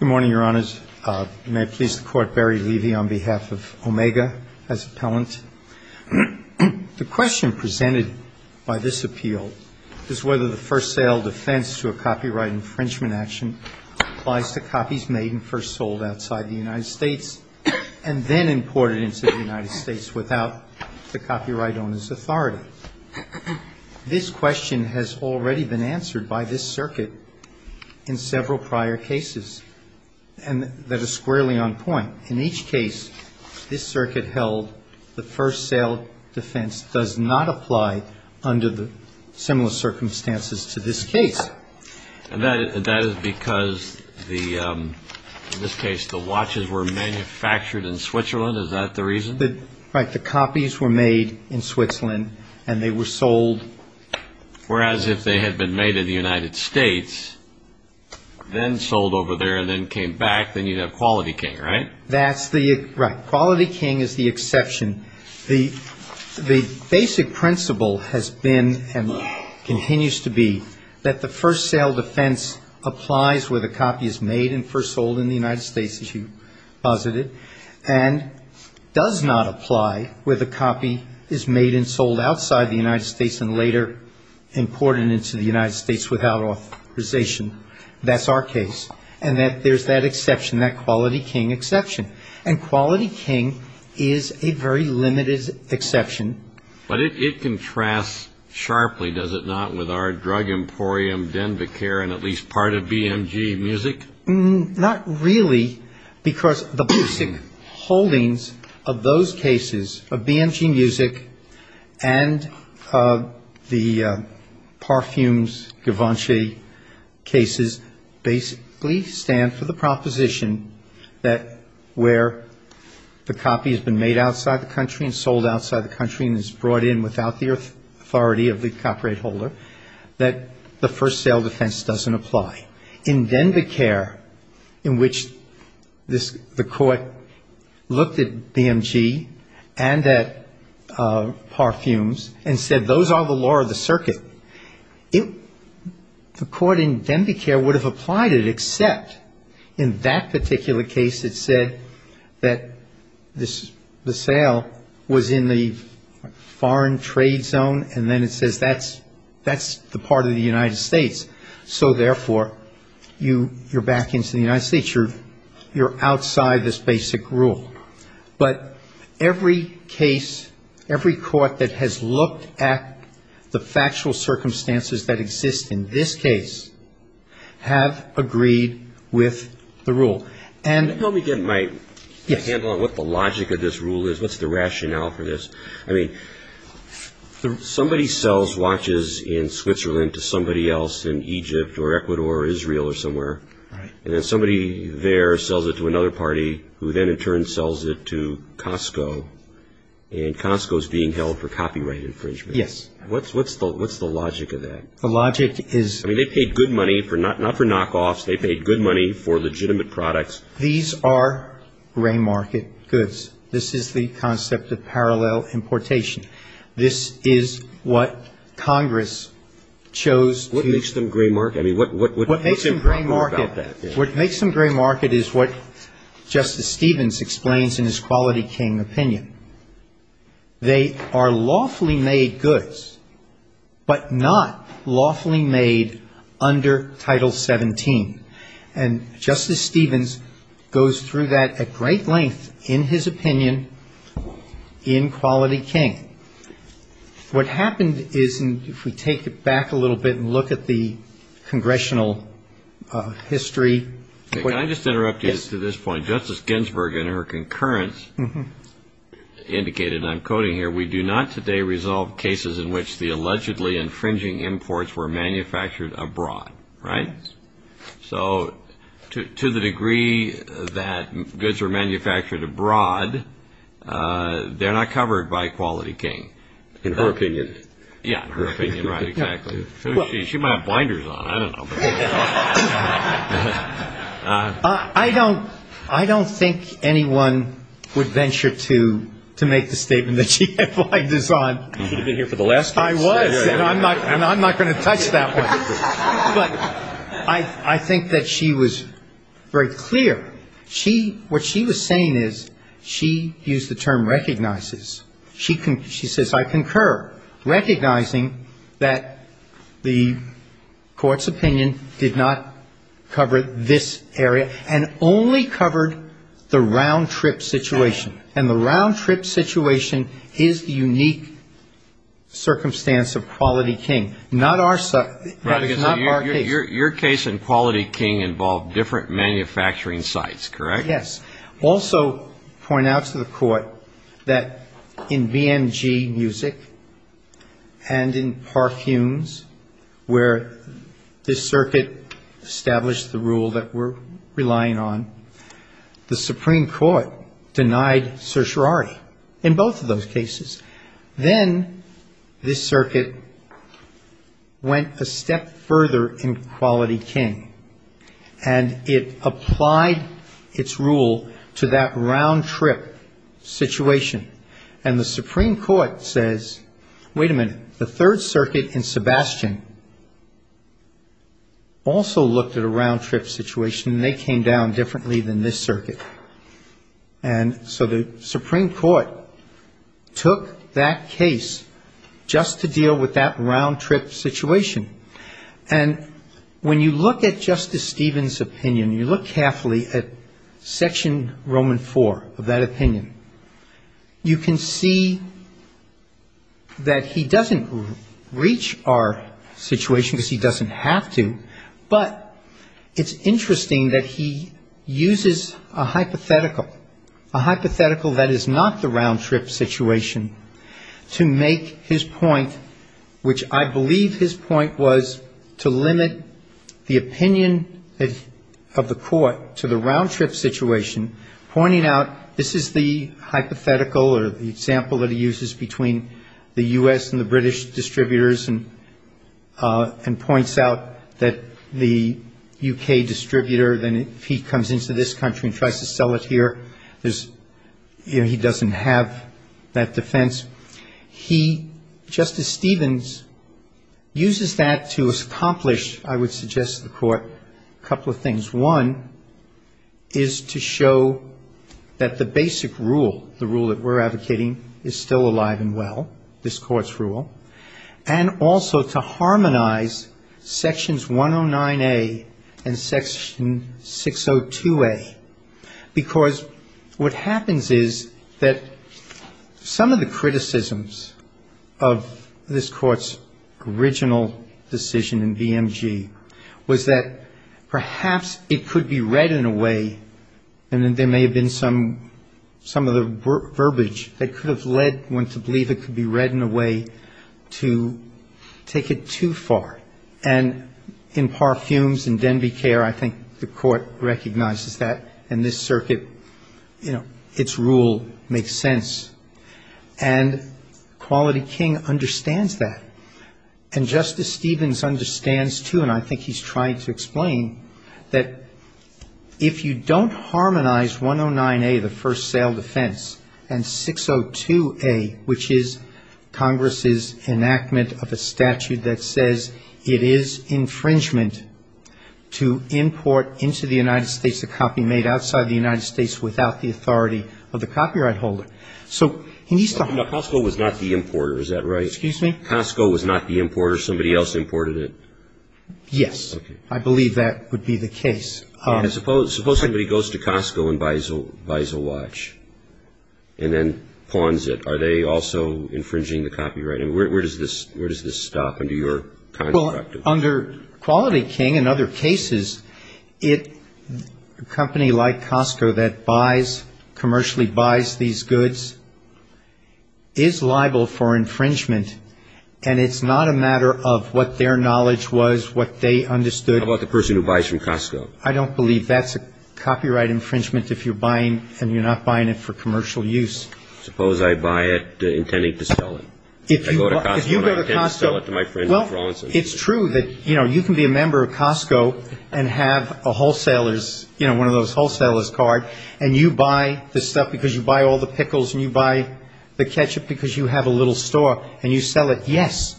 Good morning, Your Honors. May it please the Court, Barry Levy on behalf of Omega as appellant. The question presented by this appeal is whether the first sale defense to a copyright infringement action applies to copies made and first sold outside the United States and then imported into the United States without the copyright owner's authority. This question has already been answered by this circuit in several prior cases that are squarely on point. In each case, this circuit held the first sale defense does not apply under the similar circumstances to this case. And that is because, in this case, the watches were manufactured in Switzerland. Is that the reason? Right, the copies were made in Switzerland and they were sold. Whereas if they had been made in the United States, then sold over there and then came back, then you'd have Quality King, right? Right. Quality King is the exception. The basic principle has been and continues to be that the first sale defense applies where the copy is made and first sold in the United States, as you posited, and does not apply where the copy is made and sold outside the United States and later imported into the United States without authorization. That's our case. And there's that exception, that Quality King exception. And Quality King is a very limited exception. But it contrasts sharply, does it not, with our Drug Emporium, Denver Care and at least part of BMG Music? Not really, because the basic holdings of those cases, of BMG Music and the Parfums Givenchy cases, basically stand for the proposition that where the copy has been made outside the country and sold outside the country and is brought in without the authority of the copyright holder, that the first sale defense doesn't apply. In Denver Care, in which the court looked at BMG and at Parfums and said those are the law of the circuit, the court in Denver Care would have applied it, except in that particular case it said that the sale was in the foreign trade zone and then it says that's the part of the United States. So, therefore, you're back into the United States. You're outside this basic rule. But every case, every court that has looked at the factual circumstances that exist in this case, have agreed with the rule. Let me get my handle on what the logic of this rule is. What's the rationale for this? I mean, somebody sells watches in Switzerland to somebody else in Egypt or Ecuador or Israel or somewhere. And then somebody there sells it to another party who then in turn sells it to Costco. And Costco is being held for copyright infringement. Yes. What's the logic of that? The logic is... I mean, they paid good money, not for knockoffs, they paid good money for legitimate products. These are gray market goods. This is the concept of parallel importation. This is what Congress chose to... What makes them gray market? What makes them gray market is what Justice Stevens explains in his Quality King opinion. They are lawfully made goods, but not lawfully made under Title 17. And Justice Stevens goes through that at great length in his opinion in Quality King. What happened is, if we take it back a little bit and look at the congressional history... Can I just interrupt you to this point? Yes. Justice Ginsburg in her concurrence indicated, and I'm quoting here, we do not today resolve cases in which the allegedly infringing imports were manufactured abroad. Right? Yes. So to the degree that goods were manufactured abroad, they're not covered by Quality King. In her opinion. Yes, in her opinion. Right. Exactly. She might have blinders on. I don't know. I don't think anyone would venture to make the statement that she had blinders on. You could have been here for the last two weeks. I was, and I'm not going to touch that one. But I think that she was very clear. What she was saying is, she used the term recognizes. She says, I concur, recognizing that the Court's opinion did not cover this area and only covered the round-trip situation. And the round-trip situation is the unique circumstance of Quality King. Not our case. Your case in Quality King involved different manufacturing sites, correct? Yes. Also point out to the Court that in BMG Music and in Park Humes, where this circuit established the rule that we're relying on, the Supreme Court denied certiorari in both of those cases. Then this circuit went a step further in Quality King, and it applied its rule to that round-trip situation. And the Supreme Court says, wait a minute. The Third Circuit in Sebastian also looked at a round-trip situation, and they came down differently than this circuit. And so the Supreme Court took that case just to deal with that round-trip situation. And when you look at Justice Stevens' opinion, you look carefully at Section Roman IV of that opinion, you can see that he doesn't reach our situation because he doesn't have to, but it's interesting that he uses a hypothetical, a hypothetical that is not the round-trip situation, to make his point, which I believe his point was to limit the opinion of the Court to the round-trip situation, pointing out this is the hypothetical, or the example that he uses between the U.S. and the British distributors, and points out that the U.K. distributor, then if he comes into this country and tries to sell it here, he doesn't have that defense. He, Justice Stevens, uses that to accomplish, I would suggest to the Court, a couple of things. One is to show that the basic rule, the rule that we're advocating, is still alive and well, this Court's rule. And also to harmonize Sections 109A and Section 602A, because what happens is that some of the criticisms of this Court's original decision in BMG was that perhaps it could be read in a way, and there may have been some of the verbiage that could have led one to believe it could be read in a way to take it too far. And in Parfums and Denbighare, I think the Court recognizes that, and this Circuit, you know, its rule makes sense. And Quality King understands that. And Justice Stevens understands, too, and I think he's trying to explain, that if you don't harmonize 109A, the first sale defense, and 602A, which is Congress's enactment of a statute that says it is infringement to import into the United States a copy made outside the United States without the authority of the copyright holder. So, can you start? No, Costco was not the importer, is that right? Excuse me? Costco was not the importer, somebody else imported it? Yes. Okay. I believe that would be the case. Suppose somebody goes to Costco and buys a watch, and then pawns it. Are they also infringing the copyright? Where does this stop under your construct? Under Quality King and other cases, a company like Costco that buys, commercially buys these goods, is liable for infringement, and it's not a matter of what their knowledge was, what they understood. How about the person who buys from Costco? I don't believe that's a copyright infringement if you're buying, and you're not buying it for commercial use. Suppose I buy it intending to sell it. If I go to Costco and I intend to sell it to my friends in Florence. Well, it's true that, you know, you can be a member of Costco and have a wholesaler's, you know, one of those wholesaler's card, and you buy the stuff because you buy all the pickles, and you buy the ketchup because you have a little store, and you sell it, yes,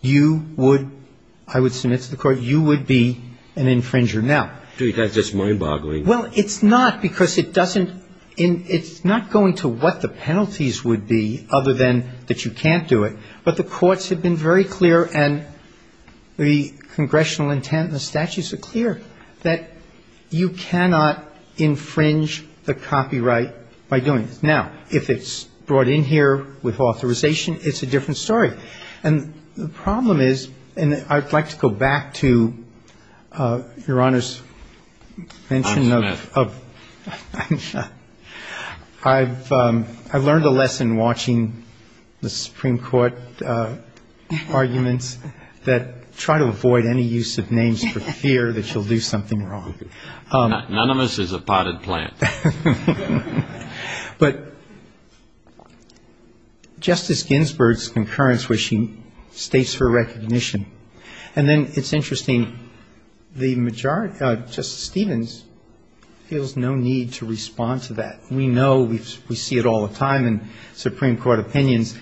you would, I would submit to the court, you would be an infringer. Do you think that's just mind-boggling? Well, it's not because it doesn't, it's not going to what the penalties would be, other than that you can't do it, but the courts have been very clear, and the congressional intent and the statutes are clear, that you cannot infringe the copyright by doing this. Now, if it's brought in here with authorization, it's a different story, and the problem is, and I'd like to go back to Your Honor's mention of... I'm Smith. I've learned a lesson watching the Supreme Court arguments that try to avoid any use of names for fear that you'll do something wrong. None of us is a potted plant. But Justice Ginsburg's concurrence where she states her recognition and then it's interesting, the majority, Justice Stevens feels no need to respond to that. We know, we see it all the time in Supreme Court opinions,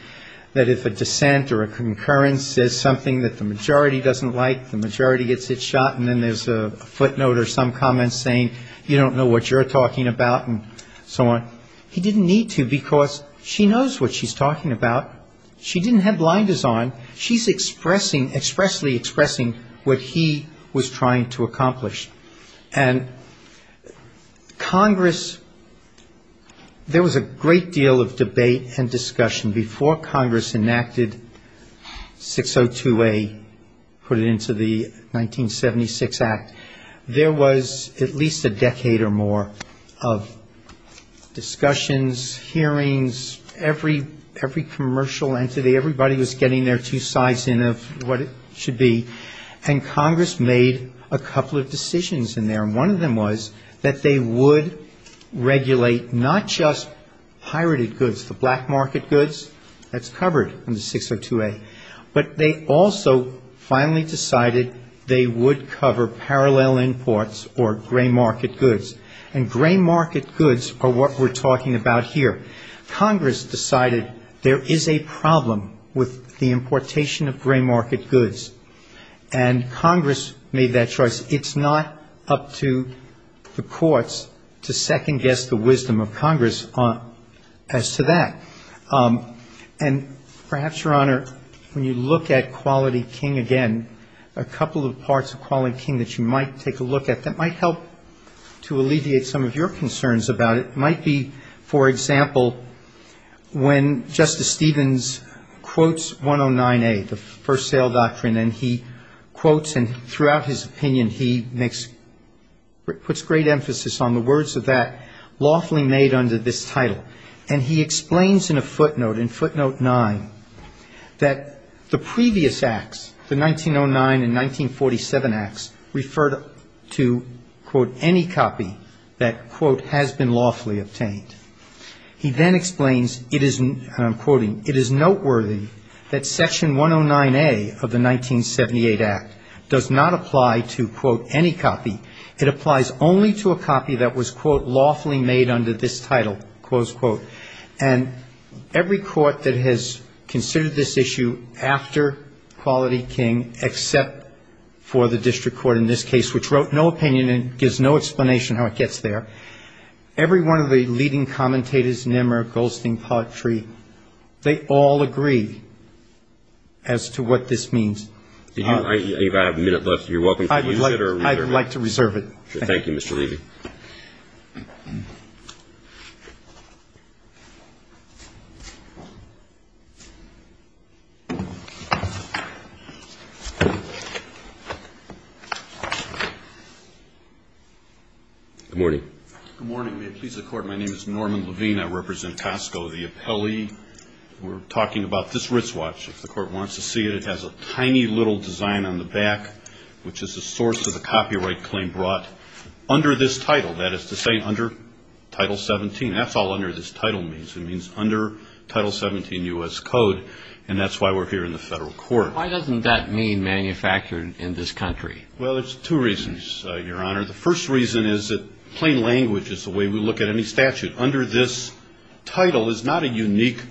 that if a dissent or a concurrence says something that the majority doesn't like, the majority gets its shot and then there's a footnote or some comment saying you don't know what you're talking about and so on. He didn't need to because she knows what she's talking about. She didn't have blinders on. She's expressing, expressly expressing what he was trying to accomplish. And Congress, there was a great deal of debate and discussion before Congress enacted 602A, put it into the 1976 Act. There was at least a decade or more of discussions, hearings, every commercial entity, everybody was getting their two sides in of what it should be. And Congress made a couple of decisions in there. And one of them was that they would regulate not just pirated goods, the black market goods, that's covered in the 602A, but they also finally decided they would cover parallel imports or gray market goods. And gray market goods are what we're talking about here. Congress decided there is a problem with the importation of gray market goods. And Congress made that choice. It's not up to the courts to second guess the wisdom of Congress as to that. And perhaps, Your Honor, when you look at Quality King again, a couple of parts of Quality King that you might take a look at that might help to alleviate some of your concerns about it might be, for example, when Justice Stevens quotes 109A, the First Sale Doctrine, and he quotes and throughout his opinion he makes, puts great emphasis on the words of that lawfully made under this title. And he explains in a footnote, in footnote 9, that the previous acts, the 1909 and 1947 acts, referred to, quote, any copy that, quote, has been lawfully obtained. He then explains it is, and I'm quoting, it is noteworthy that Section 109A of the 1978 Act does not apply to, quote, any copy. It applies only to a copy that was, quote, lawfully made under this title, close quote. And every court that has considered this issue after Quality King, except for the district court in this case, which wrote no opinion and gives no explanation how it gets there, every one of the leading commentators, Nimmer, Goldstein, Paltry, they all agree as to what this means. If I have a minute left, you're welcome to use it or reserve it. I'd like to reserve it. Thank you, Mr. Levy. Good morning. Good morning. May it please the Court. My name is Norman Levine. I represent Costco, the appellee. We're talking about this wristwatch. If the Court wants to see it, it has a tiny little design on the back, which is the source of the copyright claim brought under this title. That is to say, under Title 17. That's all under this title means. It means under Title 17 U.S. Code, and that's why we're here in the federal court. Why doesn't that mean manufactured in this country? Well, there's two reasons, Your Honor. The first reason is that plain language is the way we look at any statute. Under this title is not a unique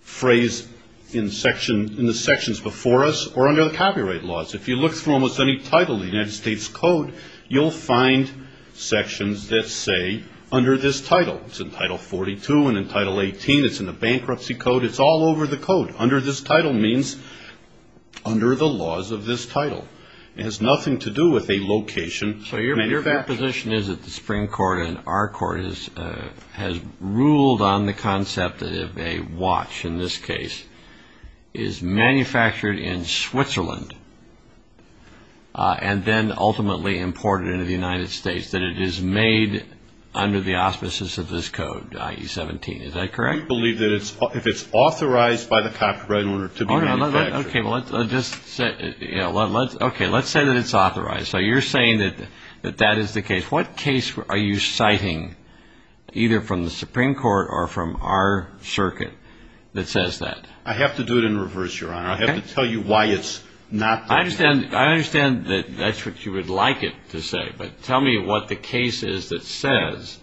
phrase in the sections before us or under the copyright laws. If you look through almost any title in the United States Code, you'll find sections that say under this title. It's in Title 42 and in Title 18. It's in the bankruptcy code. It's all over the code. Under this title means under the laws of this title. It has nothing to do with a location. So your position is that the Supreme Court and our court has ruled on the concept that if a watch in this case is manufactured in Switzerland and then ultimately imported into the United States, that it is made under the auspices of this code, i.e. 17. Is that correct? We believe that if it's authorized by the copyright owner to be manufactured. Okay, let's say that it's authorized. So you're saying that that is the case. What case are you citing either from the Supreme Court or from our circuit that says that? I have to do it in reverse, Your Honor. I have to tell you why it's not. I understand that that's what you would like it to say, but tell me what the case is that says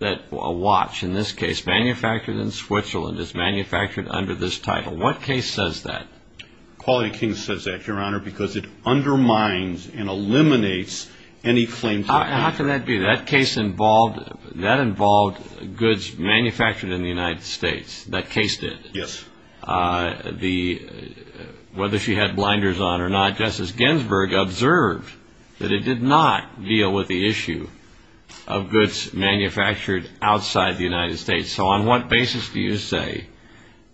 that a watch in this case manufactured in Switzerland is manufactured under this title. What case says that? Quality Kings says that, Your Honor, because it undermines and eliminates any claims of manufacture. How can that be? That case involved goods manufactured in the United States. That case did. Yes. Whether she had blinders on or not, Justice Ginsburg observed that it did not deal with the issue of goods manufactured outside the United States. So on what basis do you say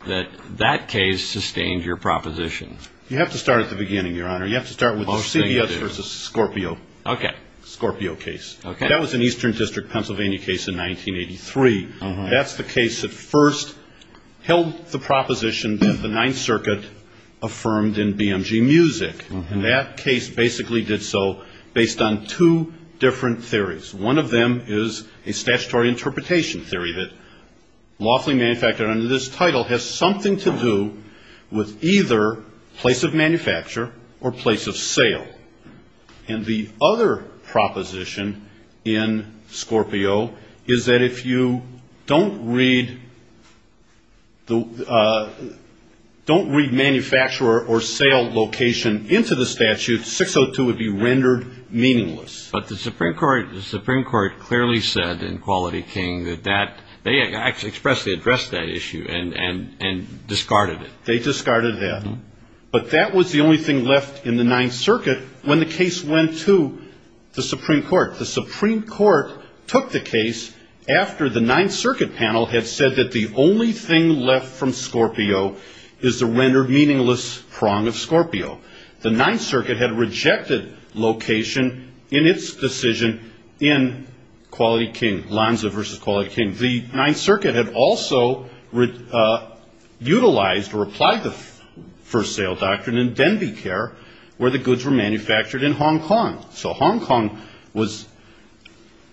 that that case sustained your proposition? You have to start at the beginning, Your Honor. You have to start with the CBS versus Scorpio case. That was an Eastern District, Pennsylvania case in 1983. That's the case that first held the proposition that the Ninth Circuit affirmed in BMG Music. And that case basically did so based on two different theories. One of them is a statutory interpretation theory that lawfully manufactured under this title has something to do with either place of manufacture or place of sale. And the other proposition in Scorpio is that if you don't read manufacturer or sale location into the statute, 602 would be rendered meaningless. But the Supreme Court clearly said in Quality King that they expressly addressed that issue and discarded it. They discarded that. But that was the only thing left in the Ninth Circuit when the case went to the Supreme Court. The Supreme Court took the case after the Ninth Circuit panel had said that the only thing left from Scorpio is the rendered meaningless prong of Scorpio. The Ninth Circuit had rejected location in its decision in Quality King, Lanza versus Quality King. The Ninth Circuit had also utilized or applied the first sale doctrine in Denbighare, where the goods were manufactured in Hong Kong. So Hong Kong was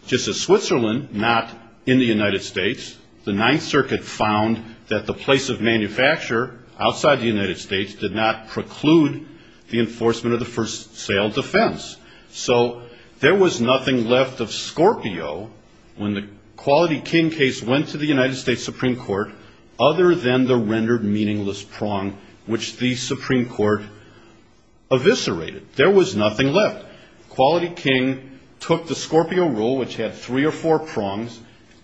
just as Switzerland, not in the United States. The Ninth Circuit found that the place of manufacture outside the United States did not preclude the enforcement of the first sale defense. So there was nothing left of Scorpio when the Quality King case went to the United States Supreme Court other than the rendered meaningless prong which the Supreme Court eviscerated. There was nothing left. Quality King took the Scorpio rule, which had three or four prongs.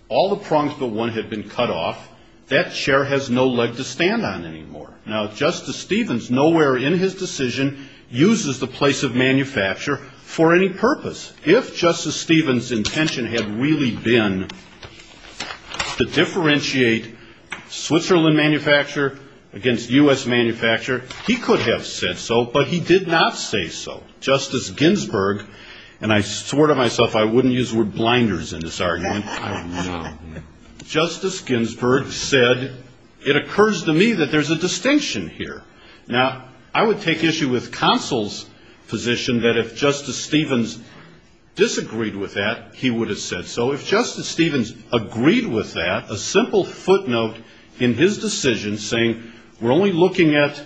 All the prongs but one had been cut off. That chair has no leg to stand on anymore. Now, Justice Stevens, nowhere in his decision uses the place of manufacture for any purpose. If Justice Stevens' intention had really been to differentiate Switzerland manufacture against U.S. manufacture, he could have said so, but he did not say so. Justice Ginsburg, and I swore to myself I wouldn't use the word blinders in this argument, Justice Ginsburg said, it occurs to me that there's a distinction here. Now, I would take issue with counsel's position that if Justice Stevens disagreed with that, he would have said so. If Justice Stevens agreed with that, a simple footnote in his decision saying, we're only looking at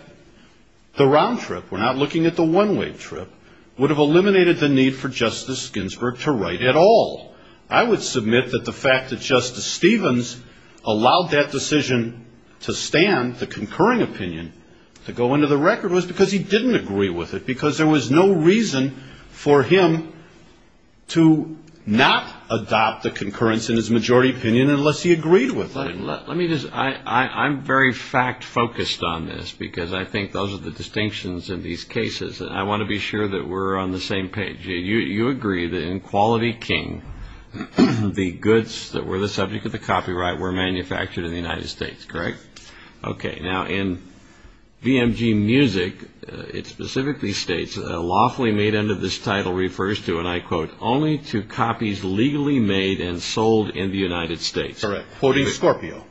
the round trip, we're not looking at the one-way trip, would have eliminated the need for Justice Ginsburg to write at all. I would submit that the fact that Justice Stevens allowed that decision to stand, the concurring opinion, to go into the record was because he didn't agree with it, because there was no reason for him to not adopt the concurrence in his majority opinion unless he agreed with it. Let me just, I'm very fact-focused on this, because I think those are the distinctions in these cases, and I want to be sure that we're on the same page. You agree that in Quality King, the goods that were the subject of the copyright were manufactured in the United States, correct? Okay, now in BMG Music, it specifically states, lawfully made under this title refers to, and I quote, only to copies legally made and sold in the United States. Correct. Quoting Scorpio.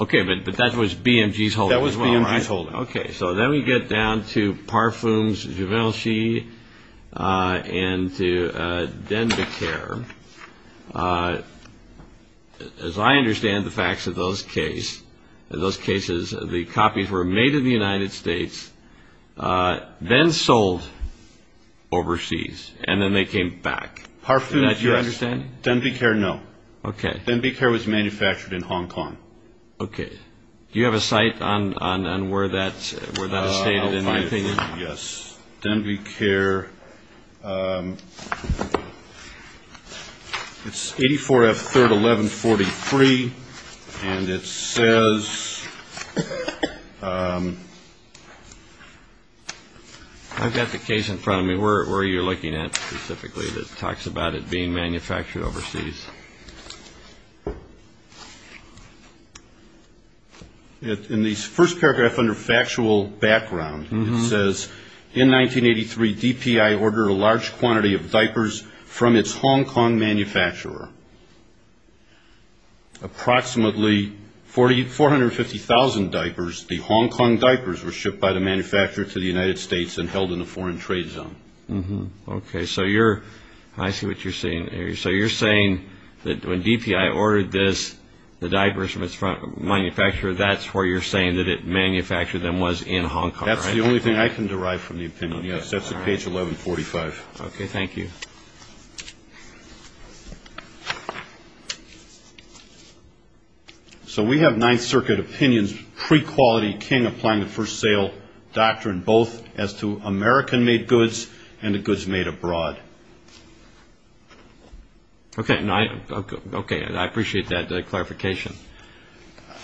Okay, but that was BMG's holding as well, right? That was BMG's holding. Okay, so then we get down to Parfums Givenchy and to Denbighare. As I understand the facts of those cases, the copies were made in the United States, then sold overseas, and then they came back. Parfums, yes. Denbighare, no. Denbighare was manufactured in Hong Kong. Okay. Do you have a site on where that is stated in your opinion? Yes. Denbighare. It's 84F 3rd 1143, and it says... I've got the case in front of me. Where are you looking at specifically that talks about it being manufactured overseas? In the first paragraph under factual background, it says, in 1983, DPI ordered a large quantity of diapers from its Hong Kong manufacturer. Approximately 450,000 diapers, the Hong Kong diapers, were shipped by the manufacturer to the United States and held in a foreign trade zone. Okay, so you're... I see what you're saying there. So you're saying that when DPI ordered this, the diapers from its manufacturer, that's where you're saying that it manufactured them was in Hong Kong, right? That's the only thing I can derive from the opinion, yes. That's at page 1145. Okay, thank you. So we have Ninth Circuit opinions pre-Quality King applying the first sale doctrine, both as to American-made goods and the goods made abroad. Okay, I appreciate that clarification.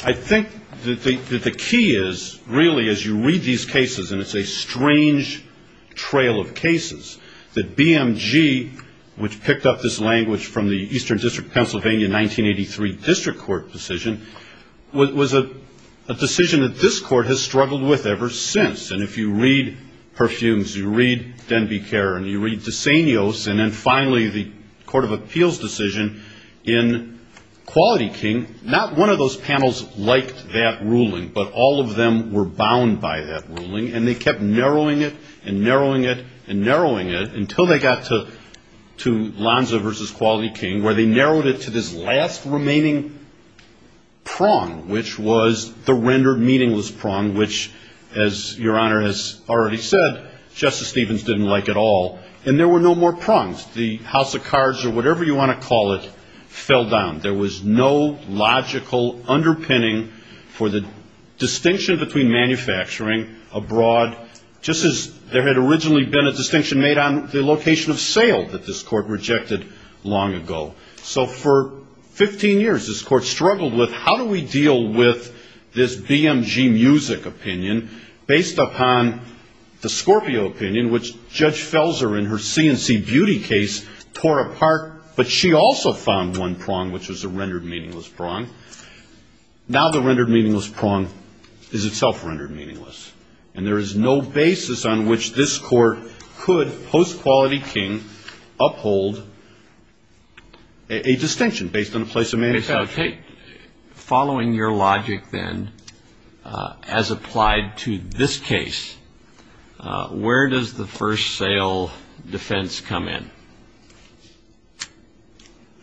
I think that the key is, really, as you read these cases, and it's a strange trail of cases, that BMG, which picked up this language from the Eastern District of Pennsylvania 1983 District Court decision, was a decision that this Court has struggled with ever since. And if you read perfumes, you read Denbigh-Kerr, and you read de Senos, and then finally the Court of Appeals decision in Quality King, not one of those panels liked that ruling, but all of them were bound by that ruling, and they kept narrowing it and narrowing it and narrowing it, until they got to Lanza v. Quality King, where they narrowed it to this last remaining prong, which was the rendered meaningless prong, which, as Your Honor has already said, Justice Stevens didn't like at all, and there were no more prongs. The house of cards, or whatever you want to call it, fell down. There was no logical underpinning for the distinction between manufacturing abroad, just as there had originally been a distinction made on the location of sale that this Court rejected long ago. So for 15 years, this Court struggled with, how do we deal with this BMG music opinion, based upon the Scorpio opinion, which Judge Felser in her C&C Beauty case tore apart, but she also found one prong, which was a rendered meaningless prong. Now the rendered meaningless prong is itself rendered meaningless, and there is no basis on which this Court could, post Quality King, uphold a distinction based on the place of manufacturing. Okay, so following your logic then, as applied to this case, where does the first sale defense come in?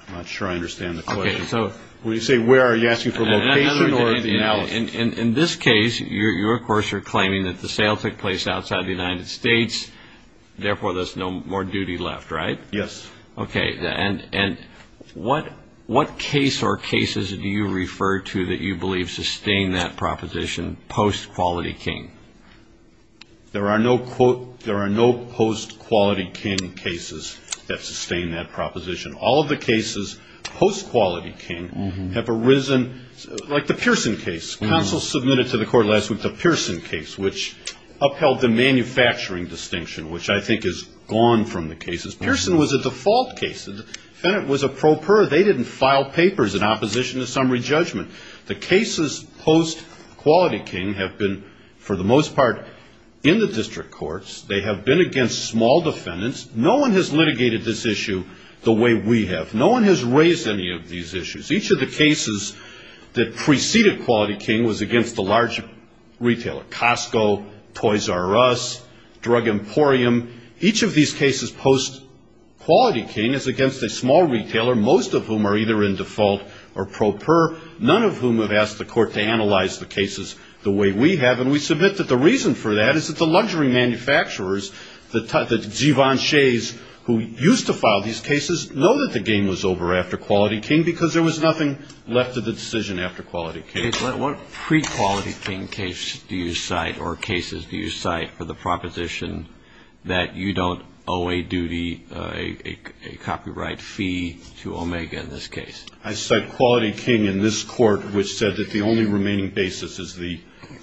I'm not sure I understand the question. When you say where, are you asking for location or the analysis? In this case, you of course are claiming that the sale took place outside the United States, therefore there's no more duty left, right? Yes. Okay, and what case or cases do you refer to that you believe sustain that proposition, post Quality King? There are no post Quality King cases that sustain that proposition. All of the cases post Quality King have arisen, like the Pearson case. Counsel submitted to the Court last week the Pearson case, which upheld the manufacturing distinction, which I think is gone from the cases. It's a default case. The defendant was a pro per. They didn't file papers in opposition to summary judgment. The cases post Quality King have been, for the most part, in the district courts. They have been against small defendants. No one has litigated this issue the way we have. No one has raised any of these issues. Each of the cases that preceded Quality King was against a large retailer, Costco, Toys R Us, Drug Emporium. Each of these cases post Quality King is against a small retailer, most of whom are either in default or pro per, none of whom have asked the Court to analyze the cases the way we have. And we submit that the reason for that is that the luxury manufacturers, the Givenchy's who used to file these cases, know that the game was over after Quality King because there was nothing left of the decision after Quality King. What pre-Quality King case do you cite or cases do you cite for the proposition that you don't owe a duty, a copyright fee to Omega in this case? I cite Quality King in this court, which said that the only remaining basis is the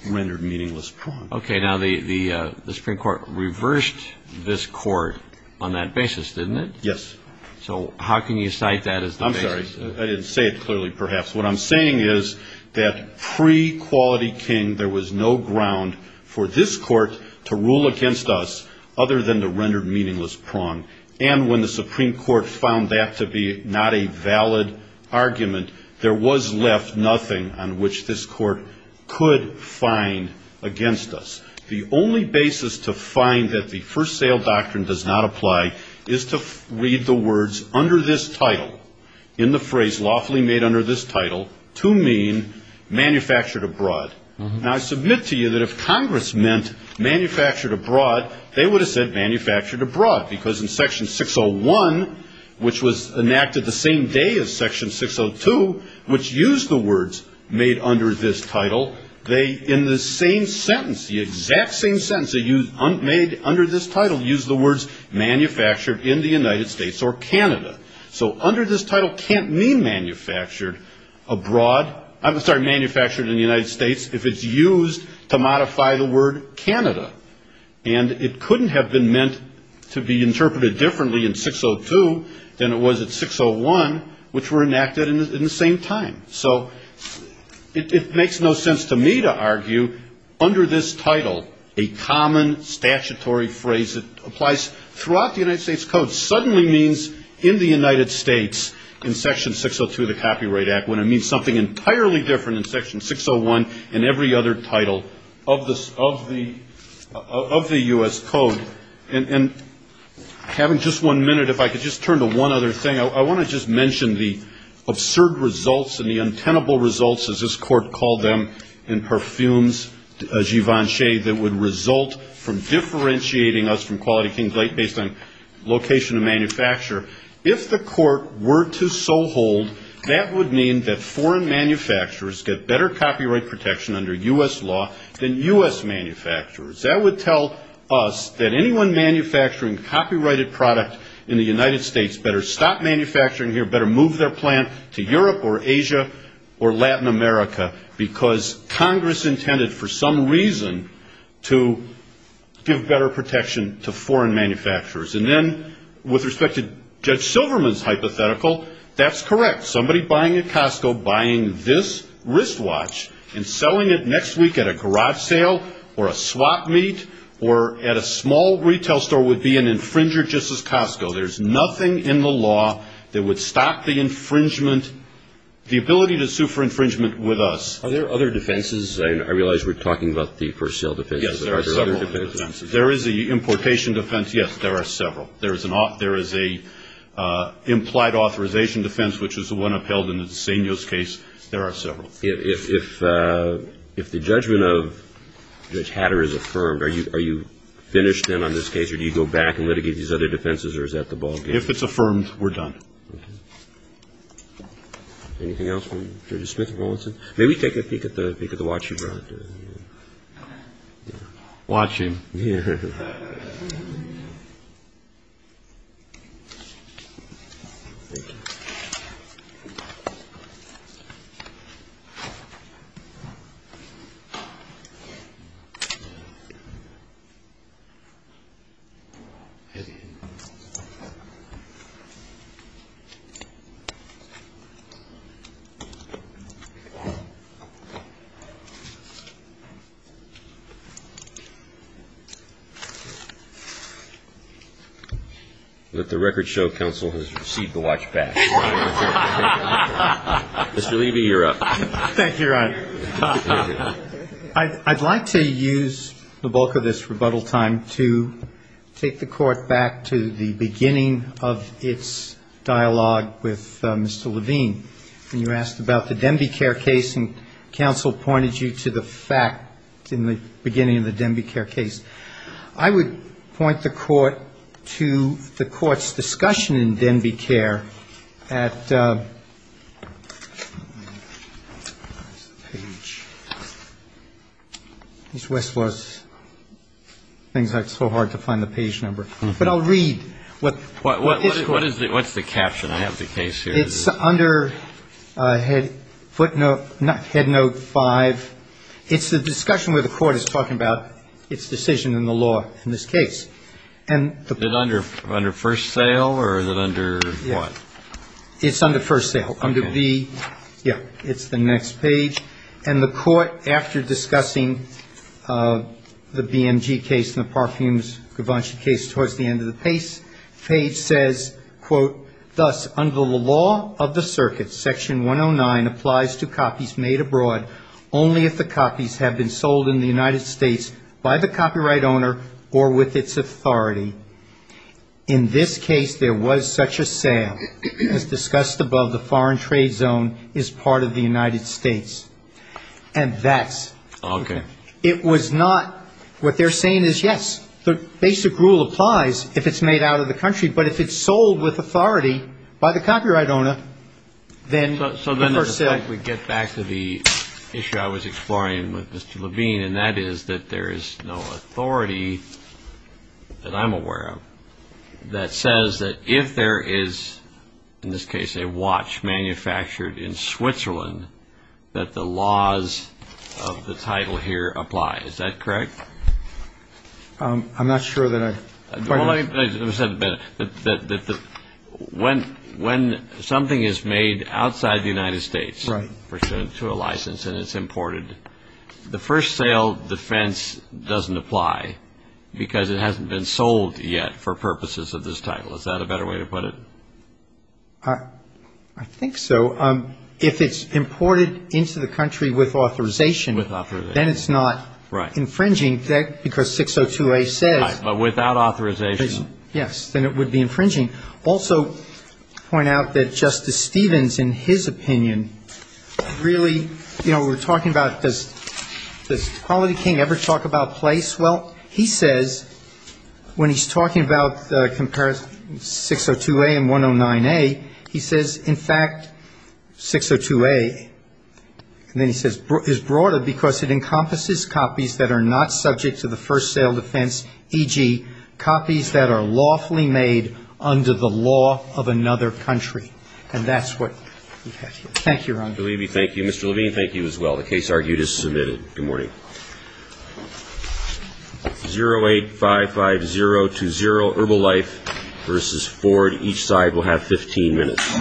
rendered meaningless prompt. Okay, now the Supreme Court reversed this court on that basis, didn't it? Yes. So how can you cite that as the basis? I'm sorry. I didn't say it clearly, perhaps. What I'm saying is that pre-Quality King, there was no ground for this court to rule against us other than the rendered meaningless prompt. And when the Supreme Court found that to be not a valid argument, there was left nothing on which this court could find against us. The only basis to find that the first sale doctrine does not apply is to read the words under this title, in the phrase lawfully made under this title, to mean manufactured abroad. Now, I submit to you that if Congress meant manufactured abroad, they would have said manufactured abroad, because in Section 601, which was enacted the same day as Section 602, which used the words made under this title, they, in the same sentence, the exact same sentence, made under this title, used the words manufactured in the United States or Canada. So under this title can't mean manufactured abroad, I'm sorry, manufactured in the United States, if it's used to modify the word Canada. And it couldn't have been meant to be interpreted differently in 602 than it was in 601, which were enacted in the same time. So it makes no sense to me to argue, under this title, a common statutory phrase that applies throughout the United States Code when it suddenly means in the United States, in Section 602 of the Copyright Act, when it means something entirely different in Section 601 and every other title of the U.S. Code. And having just one minute, if I could just turn to one other thing, I want to just mention the absurd results and the untenable results, as this Court called them, in Parfums Givenchy that would result from differentiating us from Quality Kings based on location of manufacture. If the Court were to so hold, that would mean that foreign manufacturers get better copyright protection under U.S. law than U.S. manufacturers. That would tell us that anyone manufacturing copyrighted product in the United States better stop manufacturing here, better move their plant to Europe or Asia or Latin America, because Congress intended for some reason to give better protection to foreign manufacturers. And then with respect to Judge Silverman's hypothetical, that's correct. Somebody buying at Costco, buying this wristwatch and selling it next week at a garage sale or a swap meet or at a small retail store would be an infringer just as Costco. There's nothing in the law that would stop the infringement, the ability to sue for infringement with us. Are there other defenses? I realize we're talking about the first sale defense. Yes, there are several. There is the importation defense. Yes, there are several. There is an implied authorization defense, which is the one upheld in the de Seno's case. There are several. If the judgment of Judge Hatter is affirmed, are you finished then on this case or do you go back and litigate these other defenses or is that the ballgame? If it's affirmed, we're done. Anything else from Judge Smith or Rowlandson? May we take a peek at the watch you brought? Watch you? Yes. Let the record show counsel has received the watch back. Mr. Levy, you're up. Thank you, Your Honor. I'd like to use the bulk of this rebuttal time to take the Court back to the beginning of its dialogue with Mr. Levine. was a case that had been brought to the Court and counsel pointed you to the fact in the beginning of the Denbighare case. I would point the Court to the Court's discussion in Denbighare at, where's the page? These Westwood things are so hard to find the page number. But I'll read. What's the caption? I have the case here. It's under Head Note 5. It's the discussion where the Court is talking about its decision in the law in this case. Is it under first sale or is it under what? It's under first sale, under B. Yeah, it's the next page. And the Court, after discussing the BMG case and the Parfums-Gavanchi case towards the end of the page, says, quote, Thus, under the law of the circuit, section 109 applies to copies made abroad only if the copies have been sold in the United States by the copyright owner or with its authority. In this case, there was such a sale as discussed above the foreign trade zone as part of the United States. And that's okay. It was not. What they're saying is, yes, the basic rule applies if it's made out of the country, but if it's sold with authority by the copyright owner, then the first sale. So then we get back to the issue I was exploring with Mr. Levine, and that is that there is no authority that I'm aware of that says that if there is, in this case, a watch manufactured in Switzerland, that the laws of the title here apply. Is that correct? I'm not sure that I quite understand. Let me say this a bit. When something is made outside the United States pursuant to a license and it's imported, the first sale defense doesn't apply because it hasn't been sold yet for purposes of this title. Is that a better way to put it? I think so. If it's imported into the country with authorization, then it's not infringing because 602A says without authorization. Yes, then it would be infringing. Also point out that Justice Stevens, in his opinion, really, you know, we're talking about does Quality King ever talk about place? Well, he says when he's talking about the comparison, 602A and 109A, he says, in fact, 602A, and then he says, is broader because it encompasses copies that are not subject to the first sale defense, e.g., copies that are lawfully made under the law of another country. And that's what we have here. Thank you, Your Honor. I believe we thank you. Mr. Levine, thank you as well. The case argued is submitted. Good morning. 0855020, Herbal Life v. Ford. Each side will have 15 minutes.